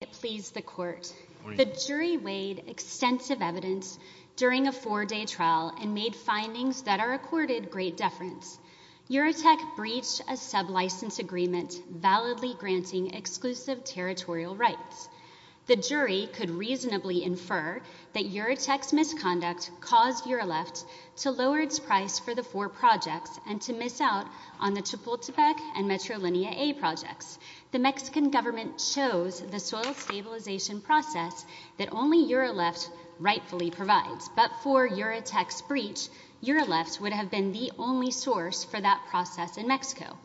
It pleased the court. The jury weighed extensive evidence during a four-day trial and made findings that are accorded great deference. Uretek breached a sub-license agreement validly granting exclusive territorial rights. The jury could reasonably infer that Uretek's misconduct caused Ureleft to lower its price for the four projects and to miss out on the stabilization process that only Ureleft rightfully provides. But for Uretek's breach, Ureleft would have been the only source for that process in Mexico.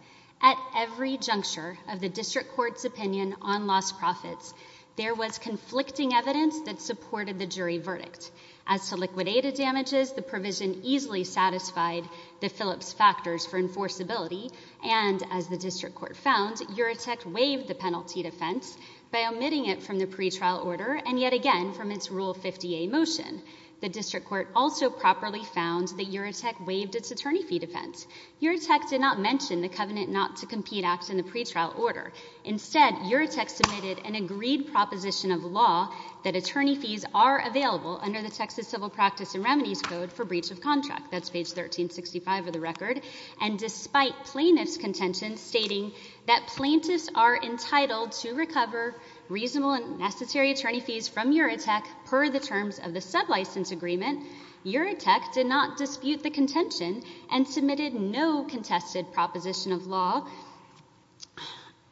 At every juncture of the district court's opinion on lost profits, there was conflicting evidence that supported the jury verdict. As to liquidated damages, the provision easily satisfied the Phillips factors for enforceability and, as the district court found, Uretek waived the penalty defense by omitting it from the pretrial order and yet again from its Rule 50A motion. The district court also properly found that Uretek waived its attorney fee defense. Uretek did not mention the Covenant Not to Compete Act in the pretrial order. Instead, Uretek submitted an agreed proposition of law that attorney fees are available under the Texas Civil Practice and Remedies Code for breach of contract. That's page 1365 of the record. And despite plaintiffs' contention stating that plaintiffs are entitled to recover reasonable and necessary attorney fees from Uretek per the terms of the sublicense agreement, Uretek did not dispute the contention and submitted no contested proposition of law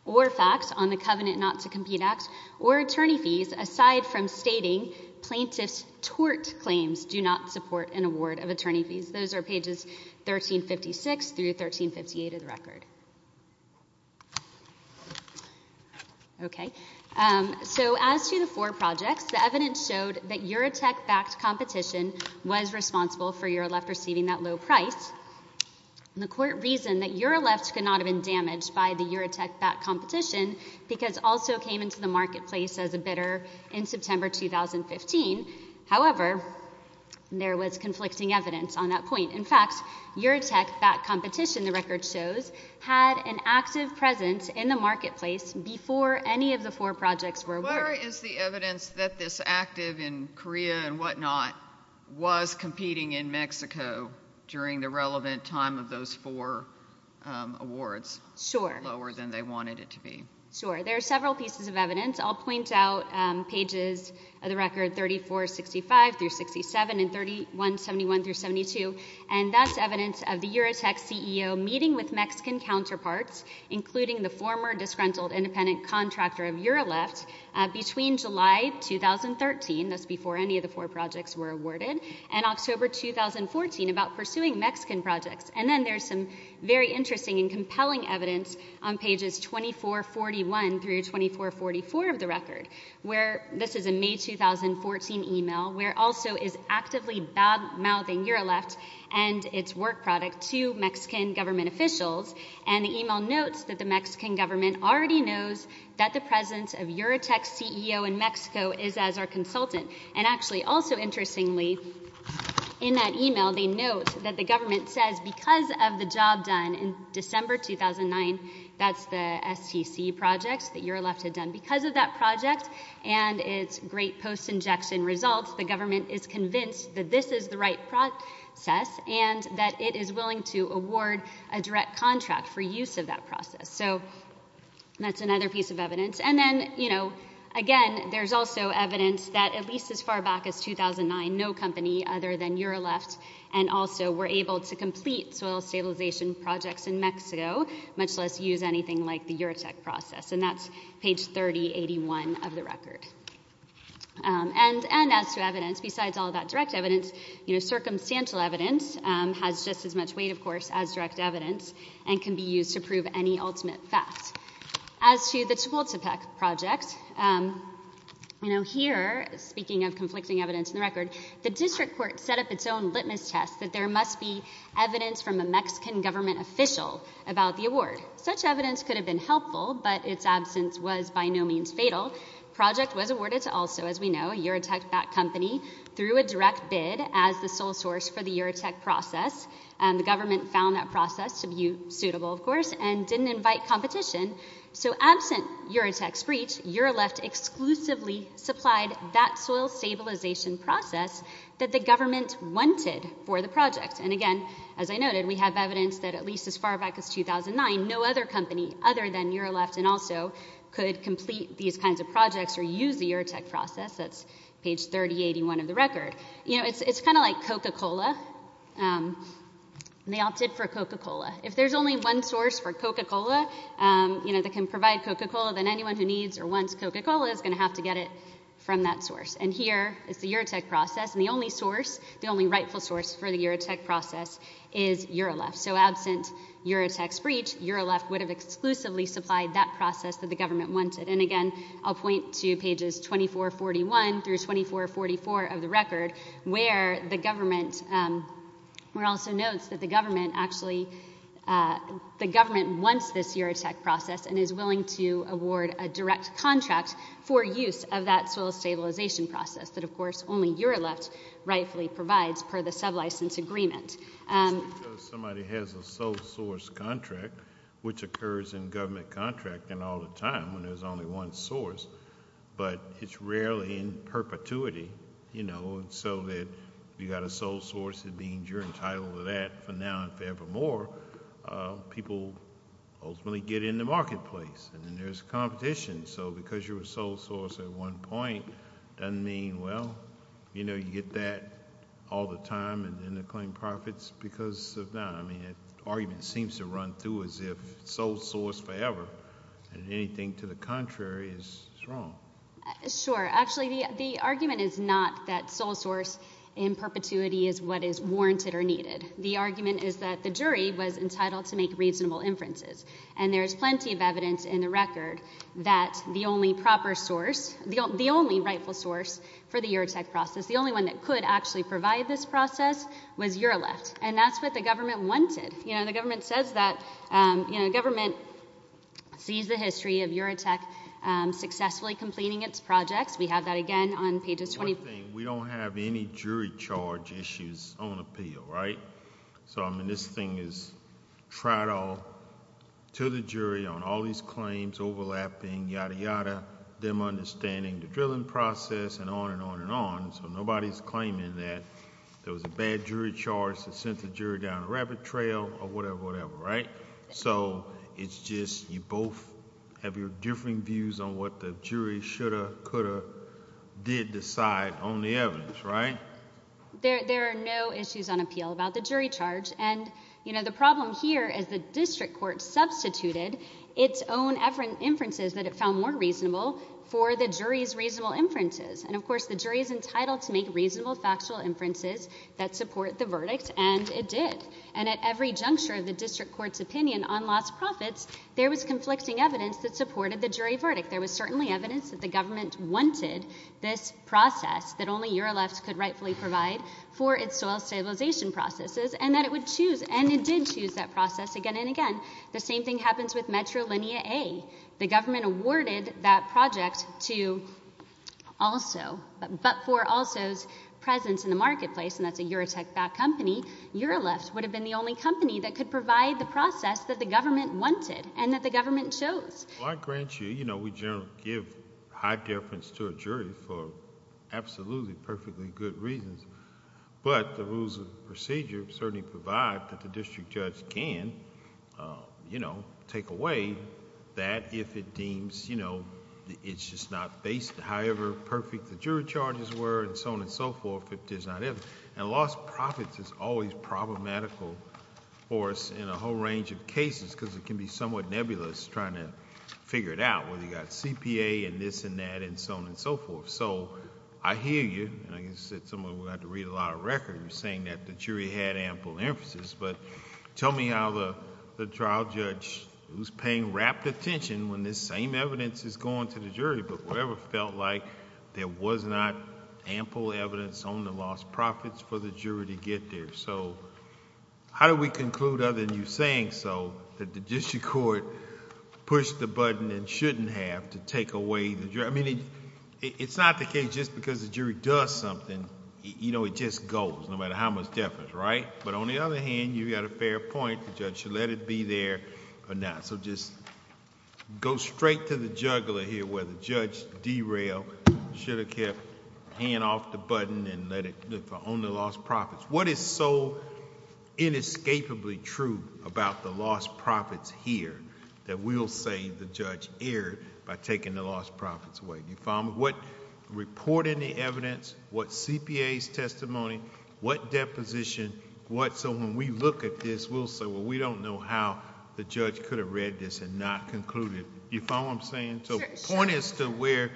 or facts on the Covenant Not to Compete Act or attorney fees aside from stating plaintiffs' tort claims do not support an attorney fee. Okay. So as to the four projects, the evidence showed that Uretek-backed competition was responsible for Ureleft receiving that low price. And the court reasoned that Ureleft could not have been damaged by the Uretek-backed competition because also came into the marketplace as a bidder in September 2015. However, there was conflicting evidence on that point. In fact, Uretek-backed competition, the record shows, had an active presence in the marketplace before any of the four projects were awarded. Where is the evidence that this active in Korea and what not was competing in Mexico during the relevant time of those four awards lower than they wanted it to be? Sure. There are several pieces of evidence. I'll point out pages of the record 3465 through 367 and 3171 through 72. And that's evidence of the Uretek CEO meeting with Mexican counterparts, including the former disgruntled independent contractor of Ureleft between July 2013, that's before any of the four projects were awarded, and October 2014 about pursuing Mexican projects. And then there's some very interesting and compelling evidence on pages 2441 through 2442 that Uretek-CEO is actively bad-mouthing Ureleft and its work product to Mexican government officials. And the email notes that the Mexican government already knows that the presence of Uretek-CEO in Mexico is as our consultant. And actually, also interestingly, in that email, they note that the government says because of the job done in December 2009, that's the STC projects that Ureleft had done. Because of that project and its great post-injection results, the government is convinced that this is the right process and that it is willing to award a direct contract for use of that process. So that's another piece of evidence. And then, you know, again, there's also evidence that at least as far back as 2009, no company other than Ureleft and also were able to complete soil stabilization projects in Mexico, much less use anything like the Uretek process. And that's page 3081 of the record. And as to evidence, besides all that direct evidence, you know, circumstantial evidence has just as much weight, of course, as direct evidence and can be used to prove any ultimate facts. As to the Chultepec project, you know, here, speaking of conflicting evidence in the record, the district court set up its own litmus test that there must be evidence from a Mexican government official about the award. Such evidence could have been helpful, but its absence was by no means fatal. The project was awarded to also, as we know, a Uretek-backed company through a direct bid as the sole source for the Uretek process. And the government found that process to be suitable, of course, and didn't invite competition. So absent Uretek's breach, Ureleft exclusively supplied that soil stabilization process that the government wanted for the project. And again, as I noted, we have evidence that at least as far back as 2009, no other company other than Ureleft and also could complete these kinds of projects or use the Uretek process. That's page 3081 of the record. You know, it's kind of like Coca-Cola. They opted for Coca-Cola. If there's only one source for Coca-Cola, you know, that can provide Coca-Cola, then anyone who needs or wants Coca-Cola is going to have to get it from that source. And here is the Uretek process. And the only source, the only rightful source for the Uretek process is Ureleft. So absent Uretek's breach, Ureleft would have exclusively supplied that process that the government wanted. And again, I'll point to pages 2441 through 2444 of the record where the government also notes that the government actually, the government wants this Uretek process and is willing to award a direct contract for use of that soil stabilization process that, of course, rightfully provides per the sublicense agreement. It's because somebody has a sole source contract, which occurs in government contract and all the time when there's only one source. But it's rarely in perpetuity, you know, so that if you've got a sole source, it means you're entitled to that for now and forevermore. People ultimately get in the marketplace and then there's competition. So because you're a sole source at one point, doesn't mean, well, you know, you get that all the time and then they claim profits because of that. I mean, the argument seems to run through as if sole source forever and anything to the contrary is wrong. Sure. Actually, the argument is not that sole source in perpetuity is what is warranted or needed. The argument is that the jury was entitled to make reasonable inferences. And there is plenty of evidence in the record that the only proper source, the only rightful source for the Uretek process, the only one that could actually provide this process was Ureleft. And that's what the government wanted. You know, the government says that, you know, government sees the history of Uretek successfully completing its projects. We have that again on pages 20. One thing, we don't have any jury charge issues on appeal, right? So, I mean, this thing is prior to the jury on all these claims overlapping, yada, yada, them understanding the drilling process and on and on and on. So nobody's claiming that there was a bad jury charge that sent the jury down a rabbit trail or whatever, whatever, right? So it's just you both have your differing views on what the jury should have, could have, did decide on the evidence, right? There are no issues on appeal about the jury charge. And, you know, the problem here is the district court substituted its own inferences that it found more reasonable for the jury's reasonable inferences. And, of course, the jury is entitled to make reasonable factual inferences that support the verdict, and it did. And at every juncture of the district court's opinion on lost profits, there was conflicting evidence that supported the jury verdict. There was certainly evidence that the government wanted this process, that only Ureleft could rightfully provide for its soil stabilization processes, and that it would choose. And it did choose that process again and again. The same thing happens with Metro Linea A. The government awarded that project to Also. But for Also's presence in the marketplace, and that's a Eurotech-backed company, Ureleft would have been the only company that could provide the process that the government wanted and that the government chose. Well, I grant you, you know, we generally give high deference to a jury for absolutely perfectly good reasons, but the rules of procedure certainly provide that the district judge can, you know, take away that if it deems, you know, it's just not based however perfect the jury charges were, and so on and so forth, if it is not... And lost profits is always problematical for us in a whole range of cases, because it can be somewhat nebulous trying to figure it out, whether you've got CPA and this and that and so on and so forth. So I hear you, and I guess it's something we have to read a lot of records, saying that the jury had ample emphasis, but tell me how the trial judge was paying rapt attention when this same evidence is going to the jury, but whatever felt like there was not ample evidence on the lost profits for the jury to get there. So how do we conclude, other than you saying so, that the district court pushed the button and shouldn't have to take away the jury... I mean, it's not the case just because the jury does something, you know, it just goes, no matter how much difference, right? But on the other hand, you've got a fair point, the judge should let it be there or not. So just go straight to the juggler here, where the judge derailed, should have kept the hand off the button and let it... on the lost profits. What is so inescapably true about the lost profits here, that we'll say the judge erred by taking the lost profits away? Do you follow me? What report in the evidence, what CPA's testimony, what deposition, what... so when we look at this, we'll say, well, we don't know how the judge could have read this and not concluded. You follow what I'm saying? Sure, sure. So the point is to where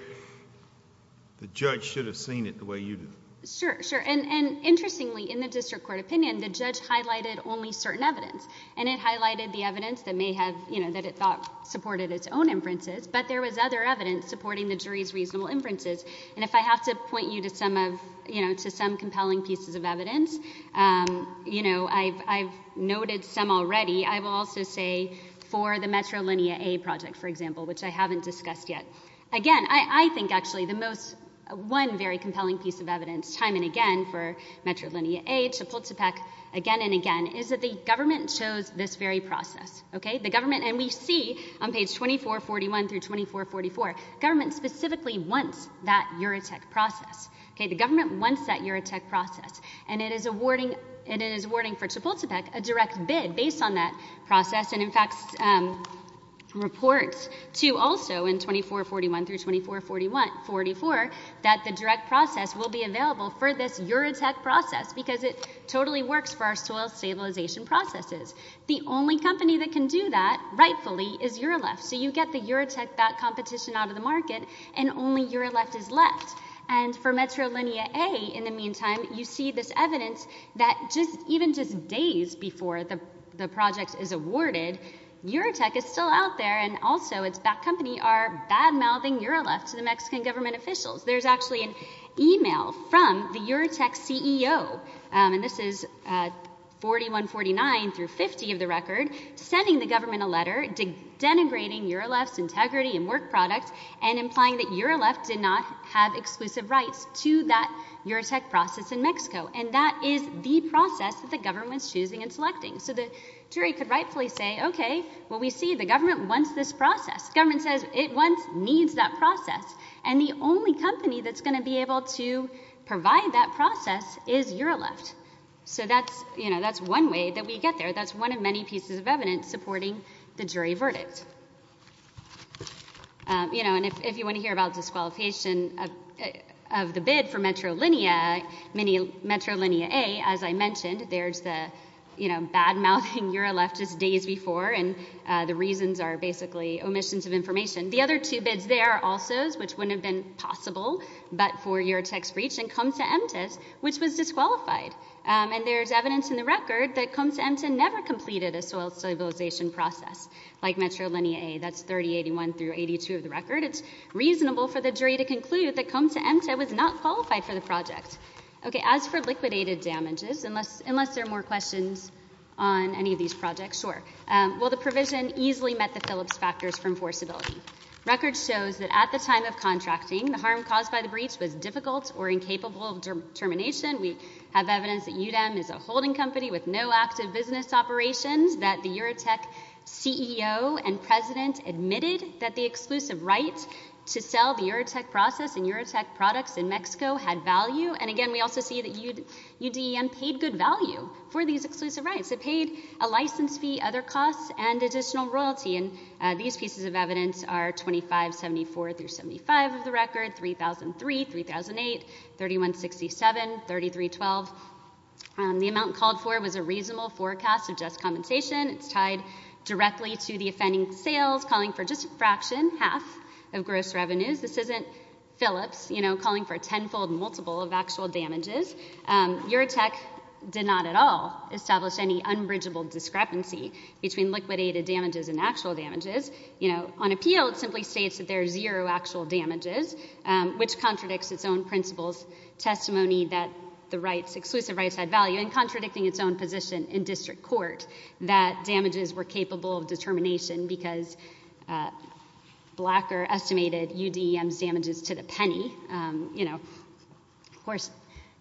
the judge should have seen it the way you did. Sure, sure. And interestingly, in the district court opinion, the judge highlighted only certain evidence. And it highlighted the evidence that may have, you know, that it thought supported its own inferences, but there was other evidence supporting the jury's reasonable inferences. And if I have to point you to some of, you know, to some compelling pieces of evidence, um, you know, I've, I've noted some already. I will also say for the Metrolinia A project, for example, which I haven't discussed yet. Again, I, I think actually the most, one very compelling piece of evidence, time and again, for Metrolinia A to Pultepec again and again, is that the government chose this very process. Okay. The government, and we see on page 2441 through 2444, government specifically wants that Eurotech process. Okay. The government wants that Eurotech process and it is awarding, it is awarding for Chapultepec a direct bid based on that process. And in fact, um, reports to also in 2441 through 2444 that the direct process will be available for this Eurotech process because it totally works for our soil stabilization processes. The only company that can do that rightfully is Euroleft. So you get the Eurotech bat competition out of the market and only Euroleft is left. And for Metrolinia A in the meantime, you see this evidence that just even just days before the project is awarded, Eurotech is still out there and also its bat company are bad mouthing Euroleft to the Mexican government officials. There's actually an email from the Eurotech CEO, um, and this is, uh, 4149 through 50 of the record, sending the government a letter denigrating Euroleft's integrity and work products and implying that Euroleft did not have exclusive rights to that Eurotech process in Mexico. And that is the process that the government's choosing and selecting. So the jury could rightfully say, okay, well, we see the government wants this process. Government says it wants, needs that process. And the only company that's going to be able to provide that process is Euroleft. So that's, you know, that's one way that we get there. That's one of many pieces of evidence supporting the jury verdict. Um, you know, and if, if you want to hear about disqualification, uh, of the bid for Metrolinia, many Metrolinia A, as I mentioned, there's the, you know, bad mouthing Euroleft just days before. And, uh, the reasons are basically omissions of which wouldn't have been possible, but for Eurotech's breach and Comte de Empte's, which was disqualified. Um, and there's evidence in the record that Comte de Empte never completed a soil stabilization process like Metrolinia A. That's 3081 through 82 of the record. It's reasonable for the jury to conclude that Comte de Empte was not qualified for the project. Okay. As for liquidated damages, unless, unless there are more questions on any of these projects, sure. Um, well, the provision easily met the Phillips factors for enforceability. Record shows that at the time of contracting, the harm caused by the breach was difficult or incapable of termination. We have evidence that UDM is a holding company with no active business operations, that the Eurotech CEO and president admitted that the exclusive right to sell the Eurotech process and Eurotech products in Mexico had value. And again, we also see that UDM paid good value for these exclusive rights. It paid a license fee, other pieces of evidence are 2574 through 75 of the record, 3003, 3008, 3167, 3312. Um, the amount called for was a reasonable forecast of just compensation. It's tied directly to the offending sales calling for just a fraction, half of gross revenues. This isn't Phillips, you know, calling for a tenfold multiple of actual damages. Um, Eurotech did not at all establish any unbridgeable discrepancy between liquidated damages and actual damages. You know, on appeal it simply states that there are zero actual damages, um, which contradicts its own principles, testimony that the rights, exclusive rights had value and contradicting its own position in district court that damages were capable of determination because, uh, Blacker estimated UDM's damages to the penny. Um, you know, of course,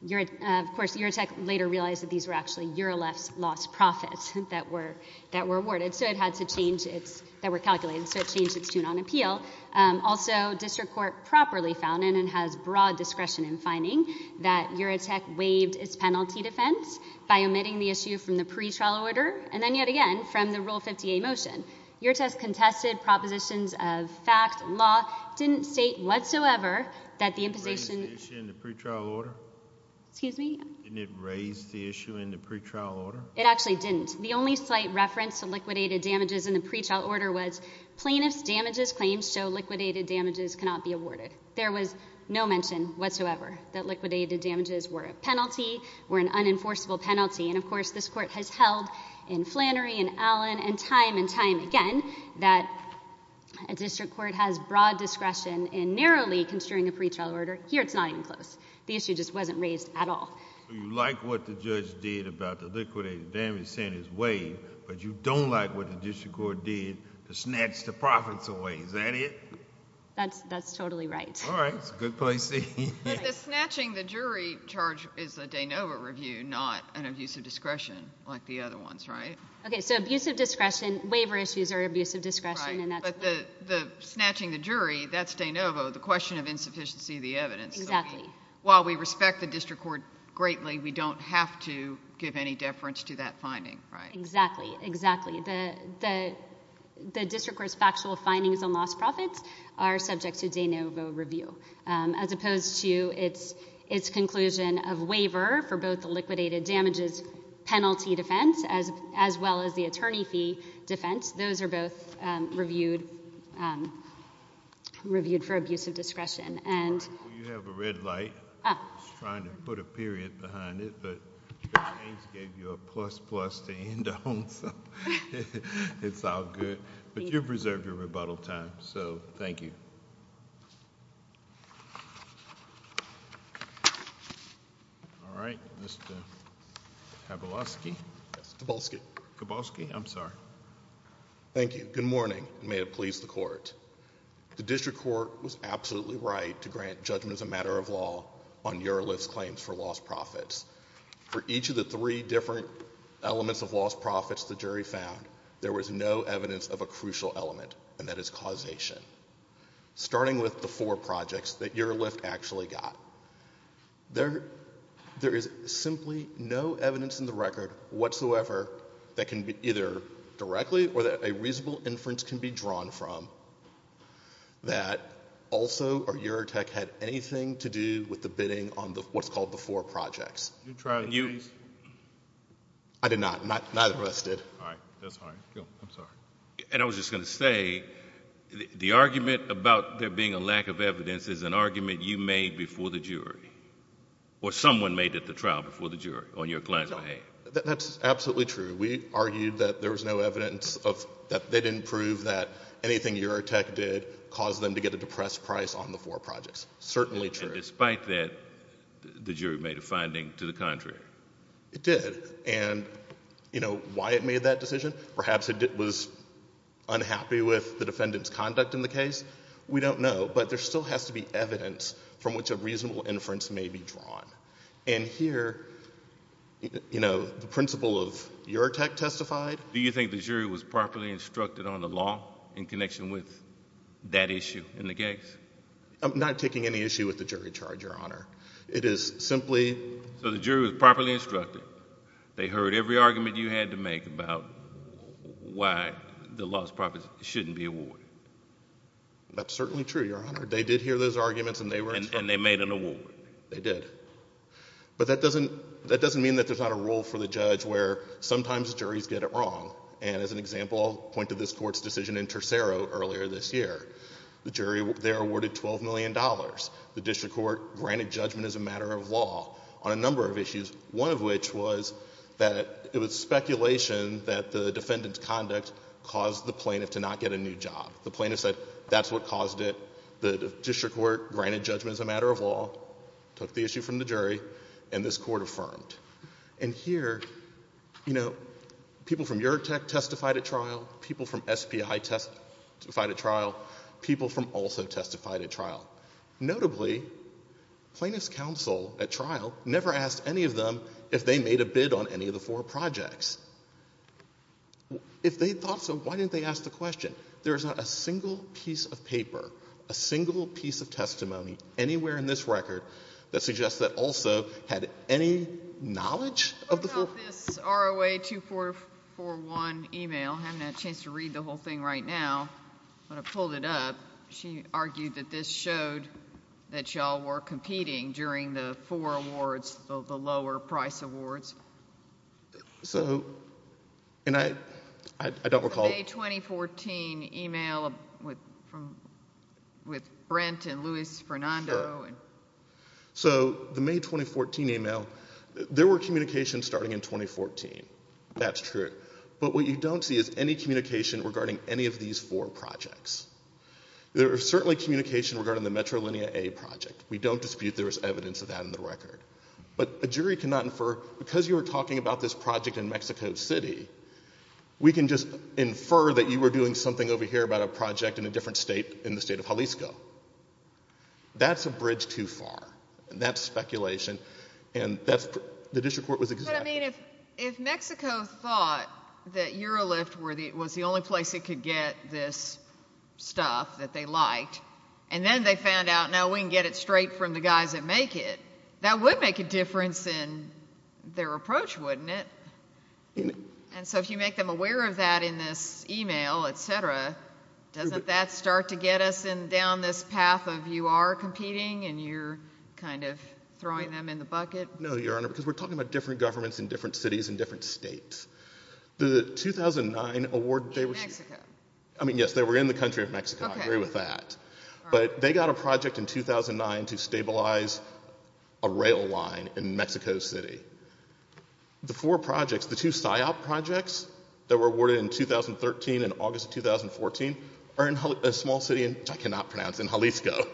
Eurotech later realized that these were actually Eurolef's lost profits that were, that were awarded, so it had to change its, that were calculated, so it changed its tune on appeal. Um, also district court properly found, and it has broad discretion in finding, that Eurotech waived its penalty defense by omitting the issue from the pretrial order, and then yet again from the Rule 50A motion. Eurotech contested propositions of fact, law, didn't state whatsoever that the issue in the pretrial order? It actually didn't. The only slight reference to liquidated damages in the pretrial order was plaintiff's damages claims show liquidated damages cannot be awarded. There was no mention whatsoever that liquidated damages were a penalty, were an unenforceable penalty, and of course this court has held in Flannery and Allen and time and time again that a district court has broad discretion in narrowly construing a pretrial order. Here it's not even close. The issue just wasn't raised at all. So you like what the judge did about the liquidated damages and his waive, but you don't like what the district court did to snatch the profits away, is that it? That's, that's totally right. All right, it's a good place to be. But the snatching the jury charge is a de novo review, not an abuse of discretion like the other ones, right? Okay, so abuse of discretion, waiver issues are abuse of discretion, and that's... Right, but the, the snatching the jury, that's de novo, the question of insufficiency of the evidence. Exactly. While we respect the district court greatly, we don't have to give any deference to that finding, right? Exactly, exactly. The, the, the district court's factual findings on lost profits are subject to de novo review, as opposed to its, its conclusion of waiver for both the liquidated damages penalty defense as, as well as the attorney fee defense. Those are both reviewed, reviewed for abuse of discretion, and... You have a red light. I was trying to put a period behind it, but Judge James gave you a plus plus to end on, so it's all good. But you've reserved your rebuttal time, so thank you. All right, Mr. Kowalski. Yes, Kowalski. Kowalski, I'm sorry. Thank you. Good morning, and may it please the court. The district court was absolutely right to grant judgment as a matter of law on Urolift's claims for lost profits. For each of the three different elements of lost profits the jury found, there was no evidence of a crucial element, and that is causation. Starting with the four projects that Urolift actually got, there, there is simply no evidence in the record whatsoever that can be either directly, or that a reasonable inference can be drawn from, that also, or Eurotech had anything to do with the bidding on the, what's called the four projects. Did you try to use... I did not. Neither of us did. All right. That's fine. I'm sorry. And I was just going to say, the argument about there being a lack of evidence is an argument you made before the jury, or someone made at the trial before the jury on your claim. That's absolutely true. We argued that there was no evidence of, that they didn't prove that anything Eurotech did caused them to get a depressed price on the four projects. Certainly true. And despite that, the jury made a finding to the contrary. It did. And, you know, why it made that decision? Perhaps it was unhappy with the defendant's conduct in the case. We don't know, but there still has to be evidence from which a reasonable inference may be drawn. And here, you know, the principal of Eurotech testified... Do you think the jury was properly instructed on the law in connection with that issue in the case? I'm not taking any issue with the jury charge, Your Honor. It is simply... So the jury was properly instructed. They heard every argument you had to make about why the lost profits shouldn't be awarded. That's certainly true, Your Honor. They did hear those arguments, and they were... And they made an award. They did. But that doesn't mean that there's not a rule for the judge where sometimes juries get it wrong. And as an example, I'll point to this Court's decision in Tercero earlier this year. The jury there awarded $12 million. The district court granted judgment as a matter of law on a number of issues, one of which was that it was speculation that the defendant's conduct caused the plaintiff to not get a new job. The plaintiff said that's what caused it. The district court granted judgment as a matter of law, took the issue from the jury, and this Court affirmed. And here, you know, people from Eurotech testified at trial, people from SPI testified at trial, people from also testified at trial. Notably, plaintiff's counsel at trial never asked any of them if they made a bid on any of the four projects. If they thought so, why didn't they ask the question? There is not a single piece of paper, a single piece of testimony anywhere in this record that suggests that also had any knowledge of the four... What about this ROA 2441 email? I haven't had a chance to read the whole thing right now, but I pulled it up. She argued that this showed that y'all were competing during the four awards, the lower price awards. So and I don't recall... The May 2014 email with Brent and Luis Fernando. So the May 2014 email, there were communications starting in 2014. That's true. But what you don't see is any communication regarding any of these four projects. There was certainly communication regarding the Metrolinia A project. We don't dispute there was evidence of that in the record. But a jury cannot infer, because you were talking about this project in Mexico City, we can just infer that you were doing something over here about a project in a different state in the state of Jalisco. That's a bridge too far. And that's speculation. And that's... The district court was... But I mean, if Mexico thought that Eurolift was the only place it could get this stuff that they liked, and then they found out, no, we can get it straight from the guys that make it, that would make a difference in their approach, wouldn't it? And so if you make them aware of that in this email, et cetera, doesn't that start to get us down this path of you are competing and you're kind of throwing them in the bucket? No, Your Honor, because we're talking about different governments in different cities and different states. The 2009 award... In Mexico. I mean, yes, they were in the country of Mexico. I agree with that. But they got a project in 2009 to stabilize a rail line in Mexico City. The four projects, the two SIOP projects that were awarded in 2013 and August of 2014, are in a small city in... which I cannot pronounce... in Jalisco.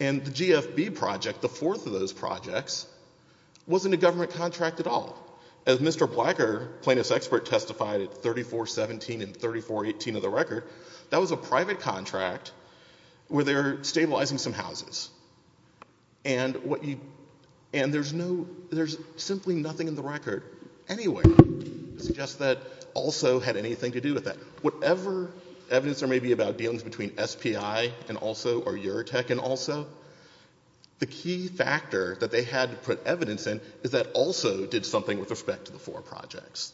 And the GFB project, the fourth of those projects, wasn't a government contract at all. As Mr. Blacker, plaintiff's expert, testified at 3417 and 3418 of the stabilizing some houses. And what you... and there's no... there's simply nothing in the record anyway to suggest that ALSO had anything to do with that. Whatever evidence there may be about dealings between SPI and ALSO or Eurotech and ALSO, the key factor that they had to put evidence in is that ALSO did something with respect to the four projects.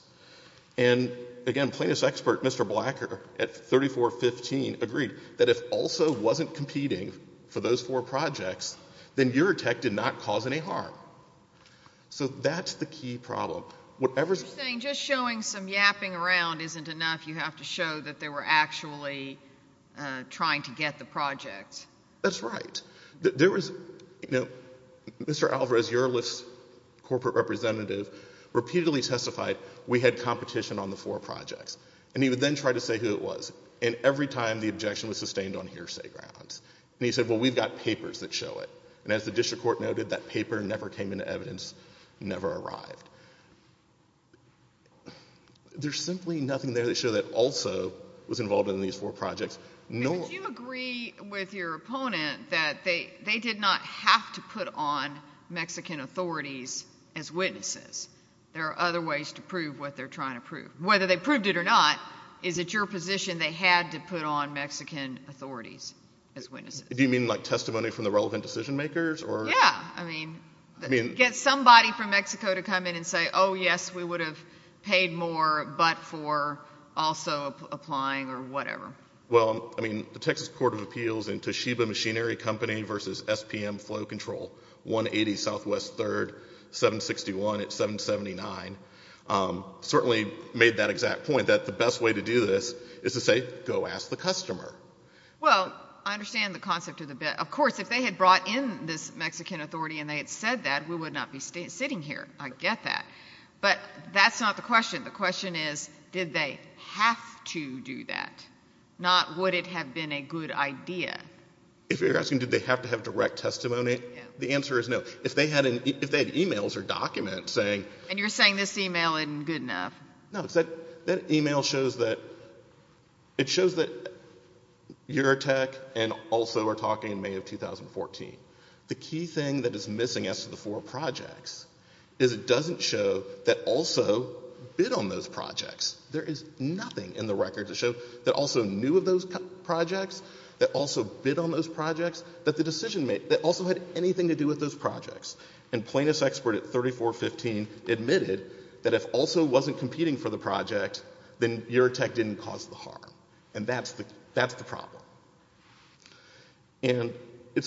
And, again, plaintiff's expert, Mr. Blacker, at 3415, agreed that if ALSO wasn't competing for those four projects, then Eurotech did not cause any harm. So that's the key problem. Whatever's... You're saying just showing some yapping around isn't enough. You have to show that they were actually trying to get the projects. That's right. There was... you know, Mr. Alvarez-Urliff's corporate representative repeatedly testified, we had competition on the four projects. And he would then try to say who it was. And every time, the objection was sustained on hearsay grounds. And he said, well, we've got papers that show it. And as the district court noted, that paper never came into evidence, never arrived. There's simply nothing there to show that ALSO was involved in these four projects, nor... And would you agree with your opponent that they did not have to put on Mexican authorities as witnesses? There are other ways to prove what they're trying to prove. Whether they proved it or not, is it your position they had to put on Mexican authorities as witnesses? Do you mean like testimony from the relevant decision makers or... Yeah. I mean, get somebody from Mexico to come in and say, oh, yes, we would have paid more but for ALSO applying or whatever. Well, I mean, the Texas Court of Appeals and Toshiba Machinery Company versus SPM Flow Control, 180 Southwest 3rd, 761 at 779, certainly made that exact point that the best way to do this is to say, go ask the customer. Well, I understand the concept of the... Of course, if they had brought in this Mexican authority and they had said that, we would not be sitting here. I get that. But that's not the question. The question is, did they have to do that? Not would it have been a good idea? If you're asking, did they have to have direct testimony, the answer is no. If they had e-mails or documents saying... And you're saying this e-mail isn't good enough. No. That e-mail shows that Eurotech and ALSO are talking in May of 2014. The key thing that is missing as to the four projects is it doesn't show that ALSO bid on those projects. There is nothing in the record to show that ALSO knew of those projects, that ALSO bid on those projects, that the decision... that ALSO had anything to do with those projects. And plaintiff's expert at 3415 admitted that if ALSO wasn't competing for the project, then Eurotech didn't cause the harm. And that's the problem. And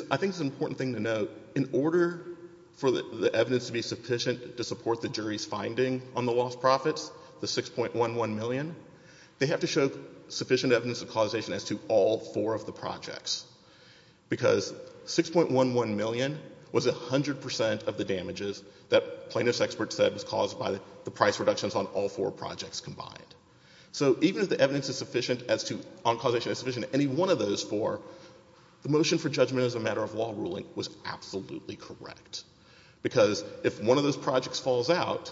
I think it's an important thing to note. In order for the evidence to be sufficient to support the jury's finding on the lost profits, the 6.11 million, they have to show sufficient evidence of causation as to all four of the projects. Because 6.11 million was 100 percent of the damages that plaintiff's expert said was caused by the price reductions on all four projects combined. So even if the evidence is sufficient as to... on causation is sufficient to any one of those four, the motion for judgment as a matter of law ruling was absolutely correct. Because if one of those projects falls out,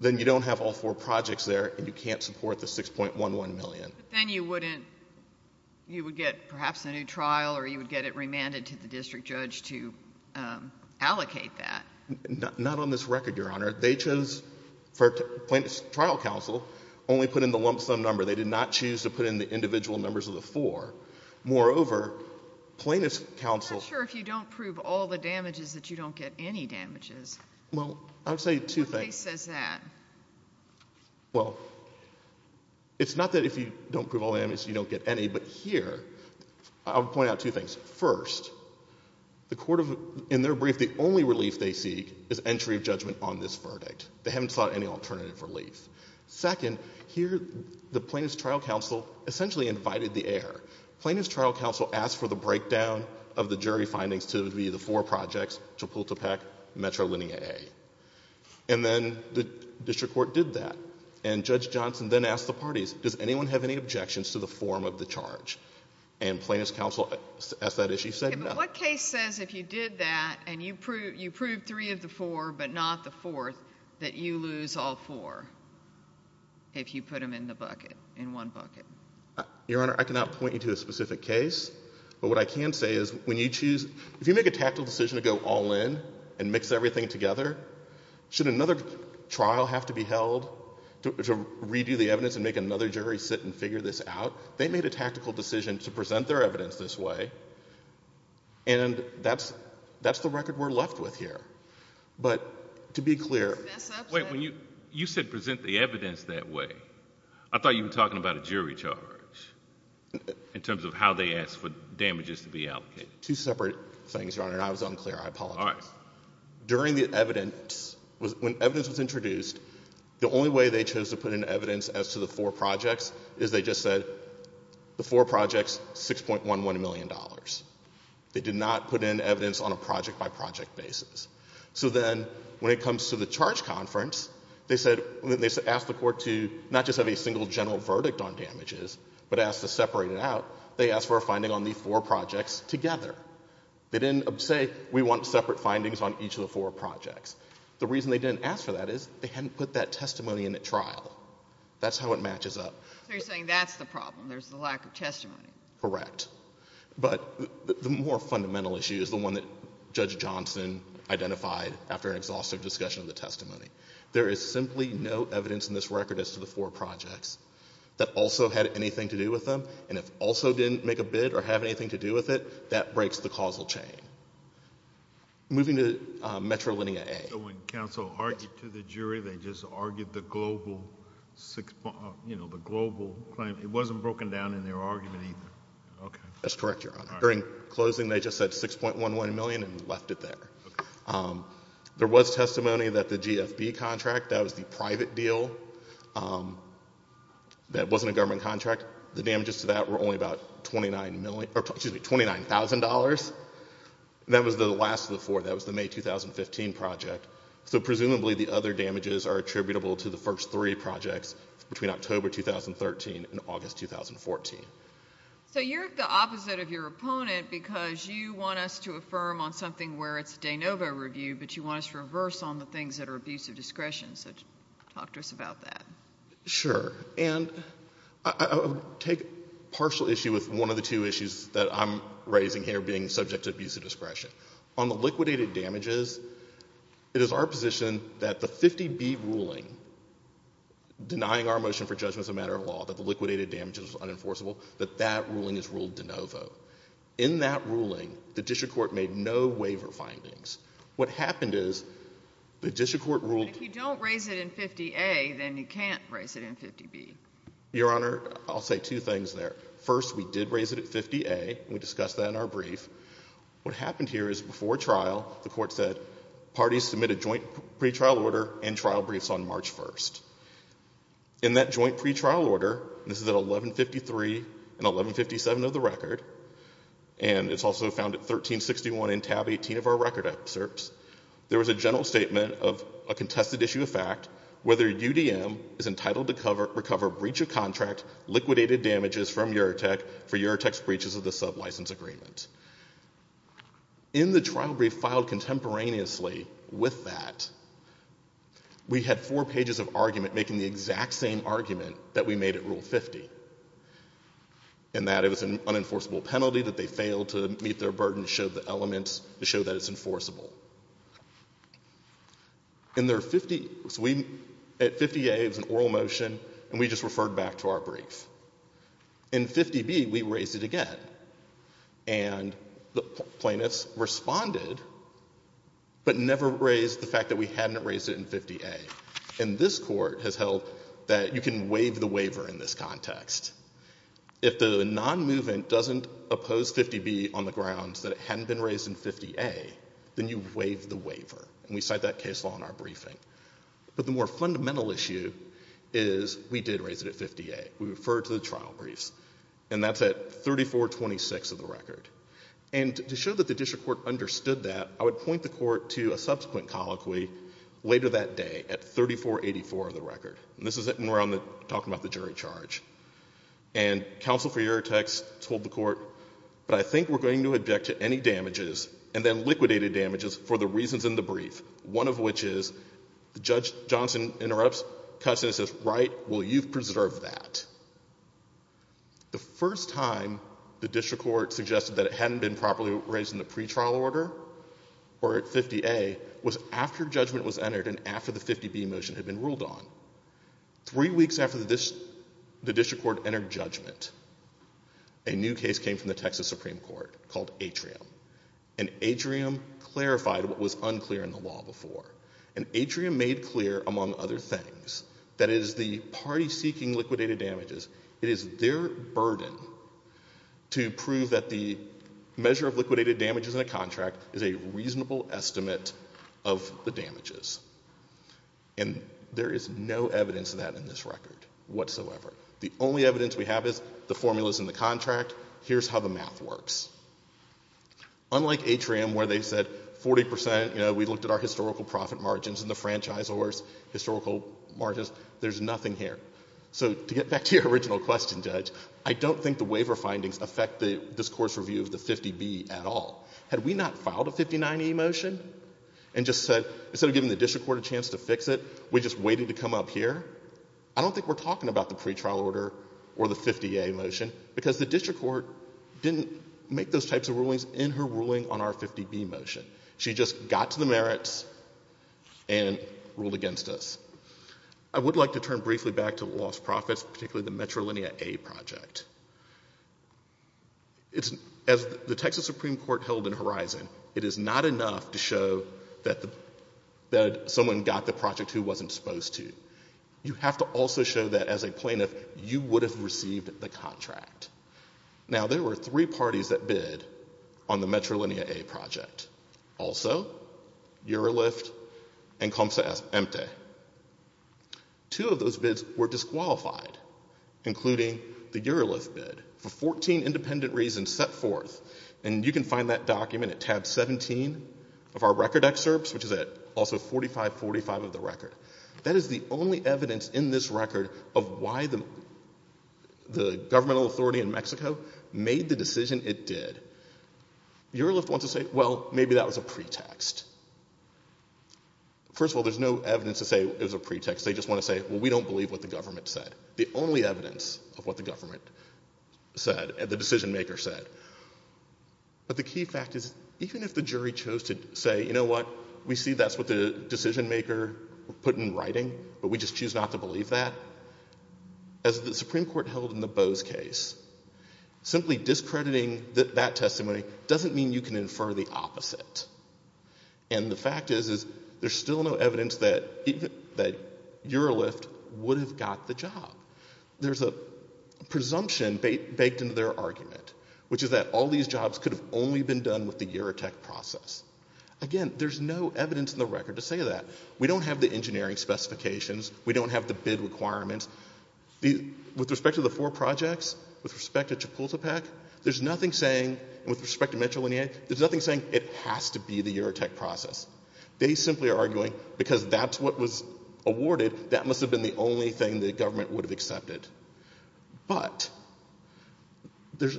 then you don't have all four projects there and you can't support the 6.11 million. But then you wouldn't... you would get perhaps a new trial or you would get it remanded to the district judge to allocate that. Not on this record, Your Honor. They chose... plaintiff's trial counsel only put in the lump sum number. They did not choose to put in the individual numbers of the four. Moreover, plaintiff's counsel... Well, I would say two things. Well, it's not that if you don't prove all the damages, you don't get any. But here, I would point out two things. First, the court of... in their brief, the only relief they seek is entry of judgment on this verdict. They haven't sought any alternative relief. Second, here the plaintiff's trial counsel essentially invited the air. Plaintiff's trial counsel asked for the breakdown of the jury findings to be the four projects, Chapultepec, Metro-Linnea A. And then the district court did that. And Judge Johnson then asked the parties, does anyone have any objections to the form of the charge? And plaintiff's counsel asked that issue, said no. Okay, but what case says if you did that and you proved three of the four but not the fourth that you lose all four if you put them in the bucket, in one bucket? Your Honor, I cannot point you to a specific case. But what I can say is when you choose... if you make a tactical decision to go all in and mix everything together, should another trial have to be held to redo the evidence and make another jury sit and figure this out? They made a tactical decision to present their evidence this way. And that's the record we're left with here. But to be clear... Wait, when you said present the evidence that way, I thought you were talking about a jury charge in terms of how they asked for damages to be allocated. Two separate things, Your Honor. And I was unclear. I apologize. All right. During the evidence... when evidence was introduced, the only way they chose to put in evidence as to the four projects is they just said, the four projects, $6.11 million. They did not put in evidence on a project-by-project basis. So then when it comes to the charge conference, they said... they asked the court to not just have a single general verdict on damages, but asked to separate it out. They asked for a finding on the four projects together. They didn't say, we want separate findings on each of the four projects. The reason they didn't ask for that is they hadn't put that testimony in at trial. That's how it matches up. So you're saying that's the problem. There's the lack of testimony. Correct. But the more fundamental issue is the one that Judge Johnson identified after an exhaustive discussion of the testimony. There is simply no evidence in this record as to the four projects that also had anything to do with them. And if also didn't make a bid or have anything to do with it, that breaks the causal chain. Moving to Metrolinia A... So when counsel argued to the jury, they just argued the global... you know, the global claim. It wasn't broken down in their argument either. That's correct, Your Honor. During closing, they just said $6.11 million and left it there. There was testimony that the GFB contract, that was the private deal, that wasn't a government contract. The damages to that were only about $29,000. That was the last of the four. That was the May 2015 project. So presumably the other damages are attributable to the first three projects between October 2013 and August 2014. So you're the opposite of your opponent because you want us to affirm on something where it's a de novo review, but you want us to reverse on the things that are abuse of discretion. So talk to us about that. Sure. And I'll take a partial issue with one of the two issues that I'm raising here being subject to abuse of discretion. On the liquidated damages, it is our position that the 50B ruling, denying our motion for judgment as a matter of law, that the liquidated damages were unenforceable, that that ruling is ruled de novo. In that ruling, the district court made no waiver findings. What happened is the district court ruled... But if you don't raise it in 50A, then you can't raise it in 50B. Your Honor, I'll say two things there. First, we did raise it at 50A. We discussed that in our brief. What happened here is before trial, the court said parties submit a joint pretrial order and trial briefs on March 1st. In that joint pretrial order, this is at 1153 and 1157 of the record, and it's also found at 1361 in tab 18 of our record excerpts, there was a general statement of a contested issue of fact, whether UDM is entitled to recover breach of contract liquidated damages from Eurotech for Eurotech's breaches of the sublicense agreement. In the trial brief filed contemporaneously with that, we had four it was an unenforceable penalty that they failed to meet their burden to show that it's enforceable. At 50A, it was an oral motion, and we just referred back to our brief. In 50B, we raised it again, and the plaintiffs responded, but never raised the fact that we hadn't raised it in 50A. And this court has held that you can waive the waiver in this context. If the nonmovement doesn't oppose 50B on the grounds that it hadn't been raised in 50A, then you waive the waiver, and we cite that case law in our briefing. But the more fundamental issue is we did raise it at 50A. We referred to the trial briefs, and that's at 3426 of the record. And to show that the district court understood that, I would point the court to a subsequent colloquy later that day at 3484 of the record, and this is when we're talking about the jury charge. And counsel for Eurotex told the court, but I think we're going to object to any damages, and then liquidated damages, for the reasons in the brief, one of which is, the judge, Johnson, interrupts, cuts and says, right, well, you've preserved that. The first time the district court suggested that it hadn't been properly raised in the pretrial order, or at 50A, was after judgment was entered and after the 50B motion had been ruled on. Three weeks after the district court entered judgment, a new case came from the Texas Supreme Court called Atrium, and Atrium clarified what was unclear in the law before. And Atrium made clear, among other things, that it is the party seeking liquidated damages, it is their burden to prove that the measure of liquidated damages in a contract is a reasonable estimate of the damages. And there is no evidence of that in this record whatsoever. The only evidence we have is the formulas in the contract. Here's how the math works. Unlike Atrium, where they said 40%, you know, we looked at our historical profit margins and the franchisor's historical margins, there's nothing here. So to get back to your original question, Judge, I don't think the court's review of the 50B at all. Had we not filed a 59E motion and just said, instead of giving the district court a chance to fix it, we just waited to come up here? I don't think we're talking about the pretrial order or the 50A motion, because the district court didn't make those types of rulings in her ruling on our 50B motion. She just got to the merits and ruled against us. I would like to turn briefly back to lost profits, particularly the Metrolinia A project. As the Texas Supreme Court held in Horizon, it is not enough to show that someone got the project who wasn't supposed to. You have to also show that as a plaintiff, you would have received the contract. Now, there were three parties that bid on the Metrolinia A project. Also, Eurolift and Comsa Empte. Two of those bids were disqualified, including the Eurolift bid. For 14 independent reasons set forth, and you can find that document at tab 17 of our record excerpts, which is also at 4545 of the record. That is the only evidence in this record of why the governmental authority in Mexico made the decision it did. Eurolift wants to say, well, maybe that was a pretext. First of all, there's no evidence to say it was a pretext. They just want to say, well, we don't believe what the government said. The only evidence of what the government said, the decision maker said. But the key fact is, even if the jury chose to say, you know what, we see that's what the decision maker put in writing, but we just choose not to believe that. As the Supreme Court held in the Bose case, simply discrediting that testimony doesn't mean you can infer the opposite. And the fact is, there's still no evidence that Eurolift would have got the job. There's a presumption baked into their argument, which is that all these jobs could have only been done with the Eurotech process. Again, there's no evidence in the record to say that. We don't have the engineering specifications. We don't have the bid requirements. With respect to the four projects, with respect to Chapultepec, there's nothing saying, with respect to Metro Linea, there's nothing saying it has to be the Eurotech process. They simply are arguing, because that's what was awarded, that must have been the only thing the government would have accepted. But there's,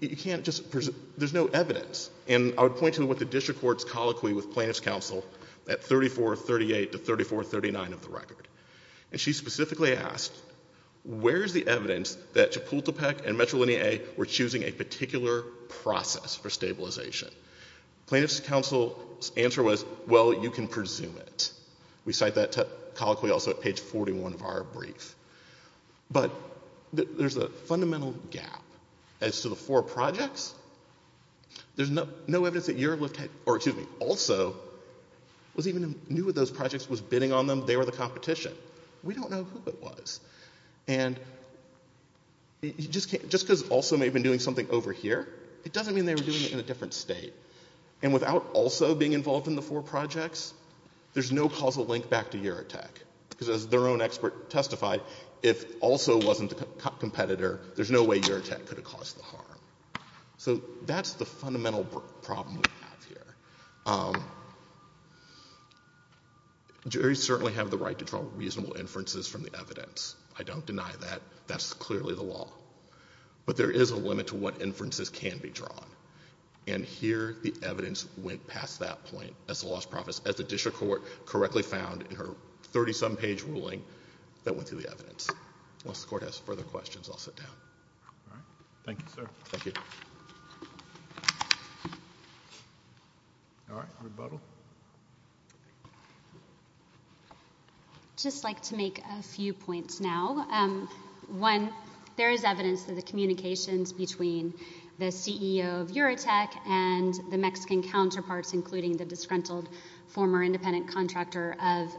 you can't just, there's no evidence. And I would point to what the district court's colloquy with plaintiff's counsel at 3438 to 3439 of the record. And she specifically asked, where's the evidence that Chapultepec and Metro Linea were choosing a particular process for stabilization? Plaintiff's counsel's answer was, well, you can presume it. We cite that colloquy also at page 41 of our brief. But there's a fundamental gap as to the four projects. There's no evidence that Eurolift had, or excuse me, also was bidding on them. They were the competition. We don't know who it was. And just because also may have been doing something over here, it doesn't mean they were doing it in a different state. And without also being involved in the four projects, there's no causal link back to Eurotech. Because as their own expert testified, if also wasn't the competitor, there's no way Eurotech could have caused the harm. So that's the fundamental problem we have here. Juries certainly have the right to draw reasonable inferences from the evidence. I don't deny that. That's clearly the law. But there is a limit to what inferences can be drawn. And here, the evidence went past that point as the district court correctly found in her 30-some page ruling that went through the evidence. Unless the court has All right. Rebuttal? I'd just like to make a few points now. One, there is evidence that the communications between the CEO of Eurotech and the Mexican counterparts, including the disgruntled former independent contractor of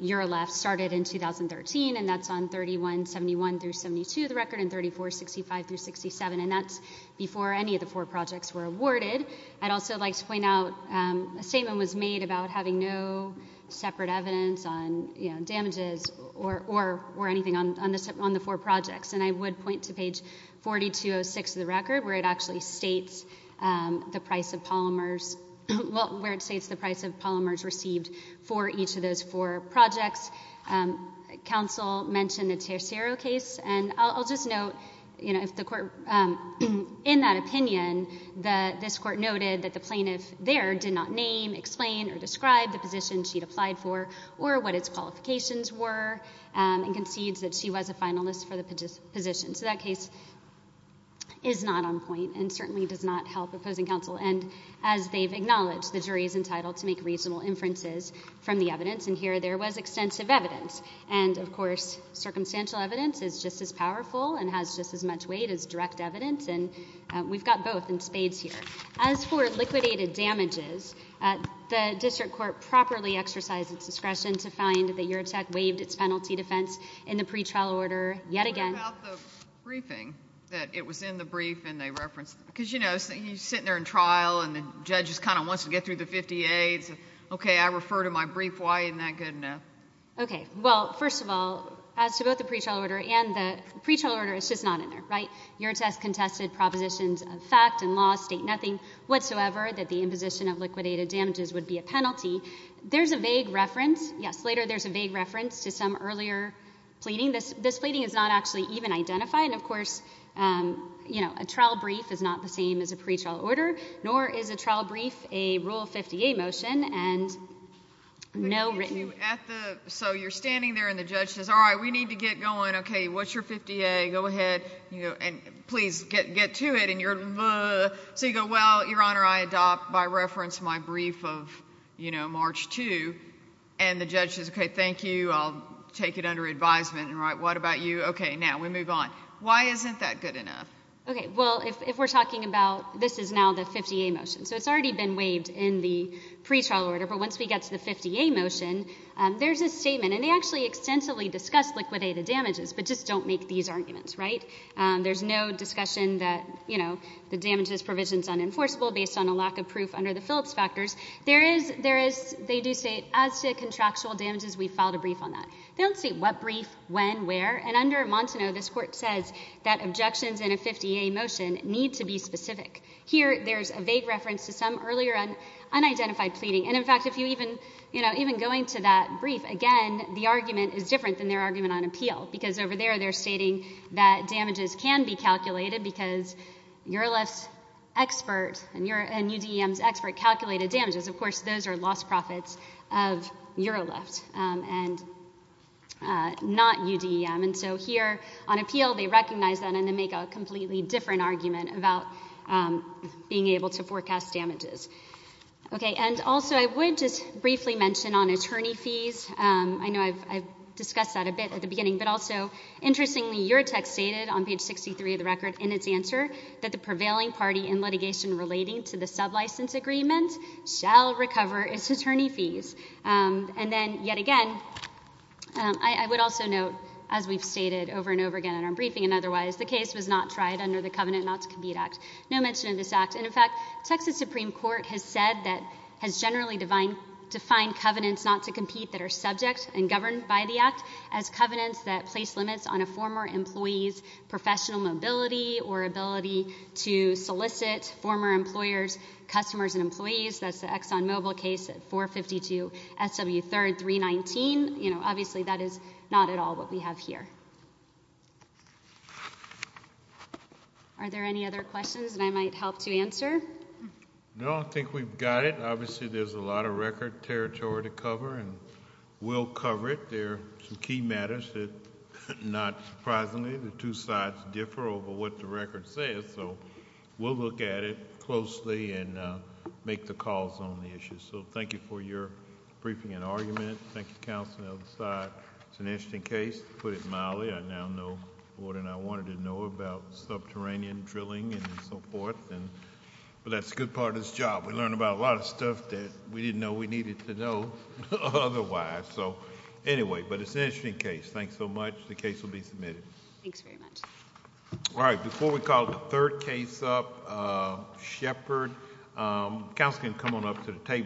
Eurolift, started in 2013. And that's on 3171-72, the record, and 3465-67. And that's before any of the four projects were awarded. I'd also like to point out a statement was made about having no separate evidence on damages or anything on the four projects. And I would point to page 4206 of the record where it actually states the price of polymers, well, where it states the price of polymers received for each of those four projects. Counsel mentioned the Tercero case. And I'll note that the plaintiff there did not name, explain, or describe the position she'd applied for or what its qualifications were and concedes that she was a finalist for the position. So that case is not on point and certainly does not help opposing counsel. And as they've acknowledged, the jury is entitled to make reasonable inferences from the evidence. And here, there was extensive evidence. And, of course, circumstantial evidence is just as powerful and has just as much weight as direct evidence. And we've got both in spades here. As for liquidated damages, the district court properly exercised its discretion to find that URTEC waived its penalty defense in the pretrial order yet again. What about the briefing, that it was in the brief and they referenced it? Because, you know, he's sitting there in trial and the judge just kind of wants to get through the 58s. Okay, I refer to my brief. Why isn't that good enough? Okay. Well, first of all, as to both the pretrial order and the pretrial order, it's just not in there, right? URTEC contested propositions of fact and law, state nothing whatsoever that the imposition of liquidated damages would be a penalty. There's a vague reference. Yes, later there's a vague reference to some earlier pleading. This pleading is not actually even identified. And, of course, you know, a trial brief is not the same as a pretrial order, nor is a trial brief a Rule 50A motion and no written... So you're standing there and the judge says, all right, we need to get going. Okay, what's your 50A? Go ahead and please get to it. And you're... So you go, well, Your Honor, I adopt by reference my brief of, you know, March 2. And the judge says, okay, thank you. I'll take it under advisement. All right, what about you? Okay, now we move on. Why isn't that good enough? Okay. Well, if we're talking about this is now the 50A motion. So it's already been waived in the pretrial order. But once we get to the 50A motion, there's a statement. And they actually extensively discuss liquidated damages, but just don't make these arguments, right? There's no discussion that, you know, the damages provision is unenforceable based on a lack of proof under the Phillips factors. There is... They do state, as to contractual damages, we filed a brief on that. They don't state what brief, when, where. And under Montano, this Court says that objections in a 50A motion need to be specific. Here there's a vague reference to some earlier unidentified pleading. And, in fact, if you even, you know, even going to that brief, again, the argument is different than their argument on appeal. Because over there they're stating that damages can be calculated because EuroLift's expert and UDEM's expert calculated damages. Of course, those are lost profits of EuroLift and not UDEM. And so here, on appeal, they recognize that and then make a completely different argument about being able to forecast damages. Okay, and also I would just briefly mention on attorney fees, I know I've discussed that a bit at the beginning, but also, interestingly, your text stated on page 63 of the record in its answer that the prevailing party in litigation relating to the sub-license agreement shall recover its attorney fees. And then, yet again, I would also note, as we've stated over and over again in our briefing and otherwise, the case was not tried under the Covenant Not to Compete Act. No mention of this act. And, in fact, Texas Supreme Court has said that, has generally defined covenants not to compete that are subject and governed by the act as covenants that place limits on a former employee's professional mobility or ability to solicit former employers, customers, and employees. That's the Exxon Mobil case at 452 SW 3rd 319. You know, obviously, that is not at all what we have here. Are there any other questions that I might help to answer? No, I think we've got it. Obviously, there's a lot of record territory to cover and we'll cover it. There are some key matters that, not surprisingly, the two sides differ over what the record says, so we'll look at it closely and make the calls on the issues. So thank you for your briefing and argument. Thank you, Counsel, on the other side. It's an interesting case. To put it mildly, I now know more than I wanted to know about subterranean drilling and so forth, but that's a good part of this job. We learn about a lot of stuff that we didn't know we needed to know otherwise. So anyway, but it's an interesting case. Thanks so much. The case will be submitted. Thanks very much. All right, before we call the third case up, Shepard, Counsel can come on up to the table.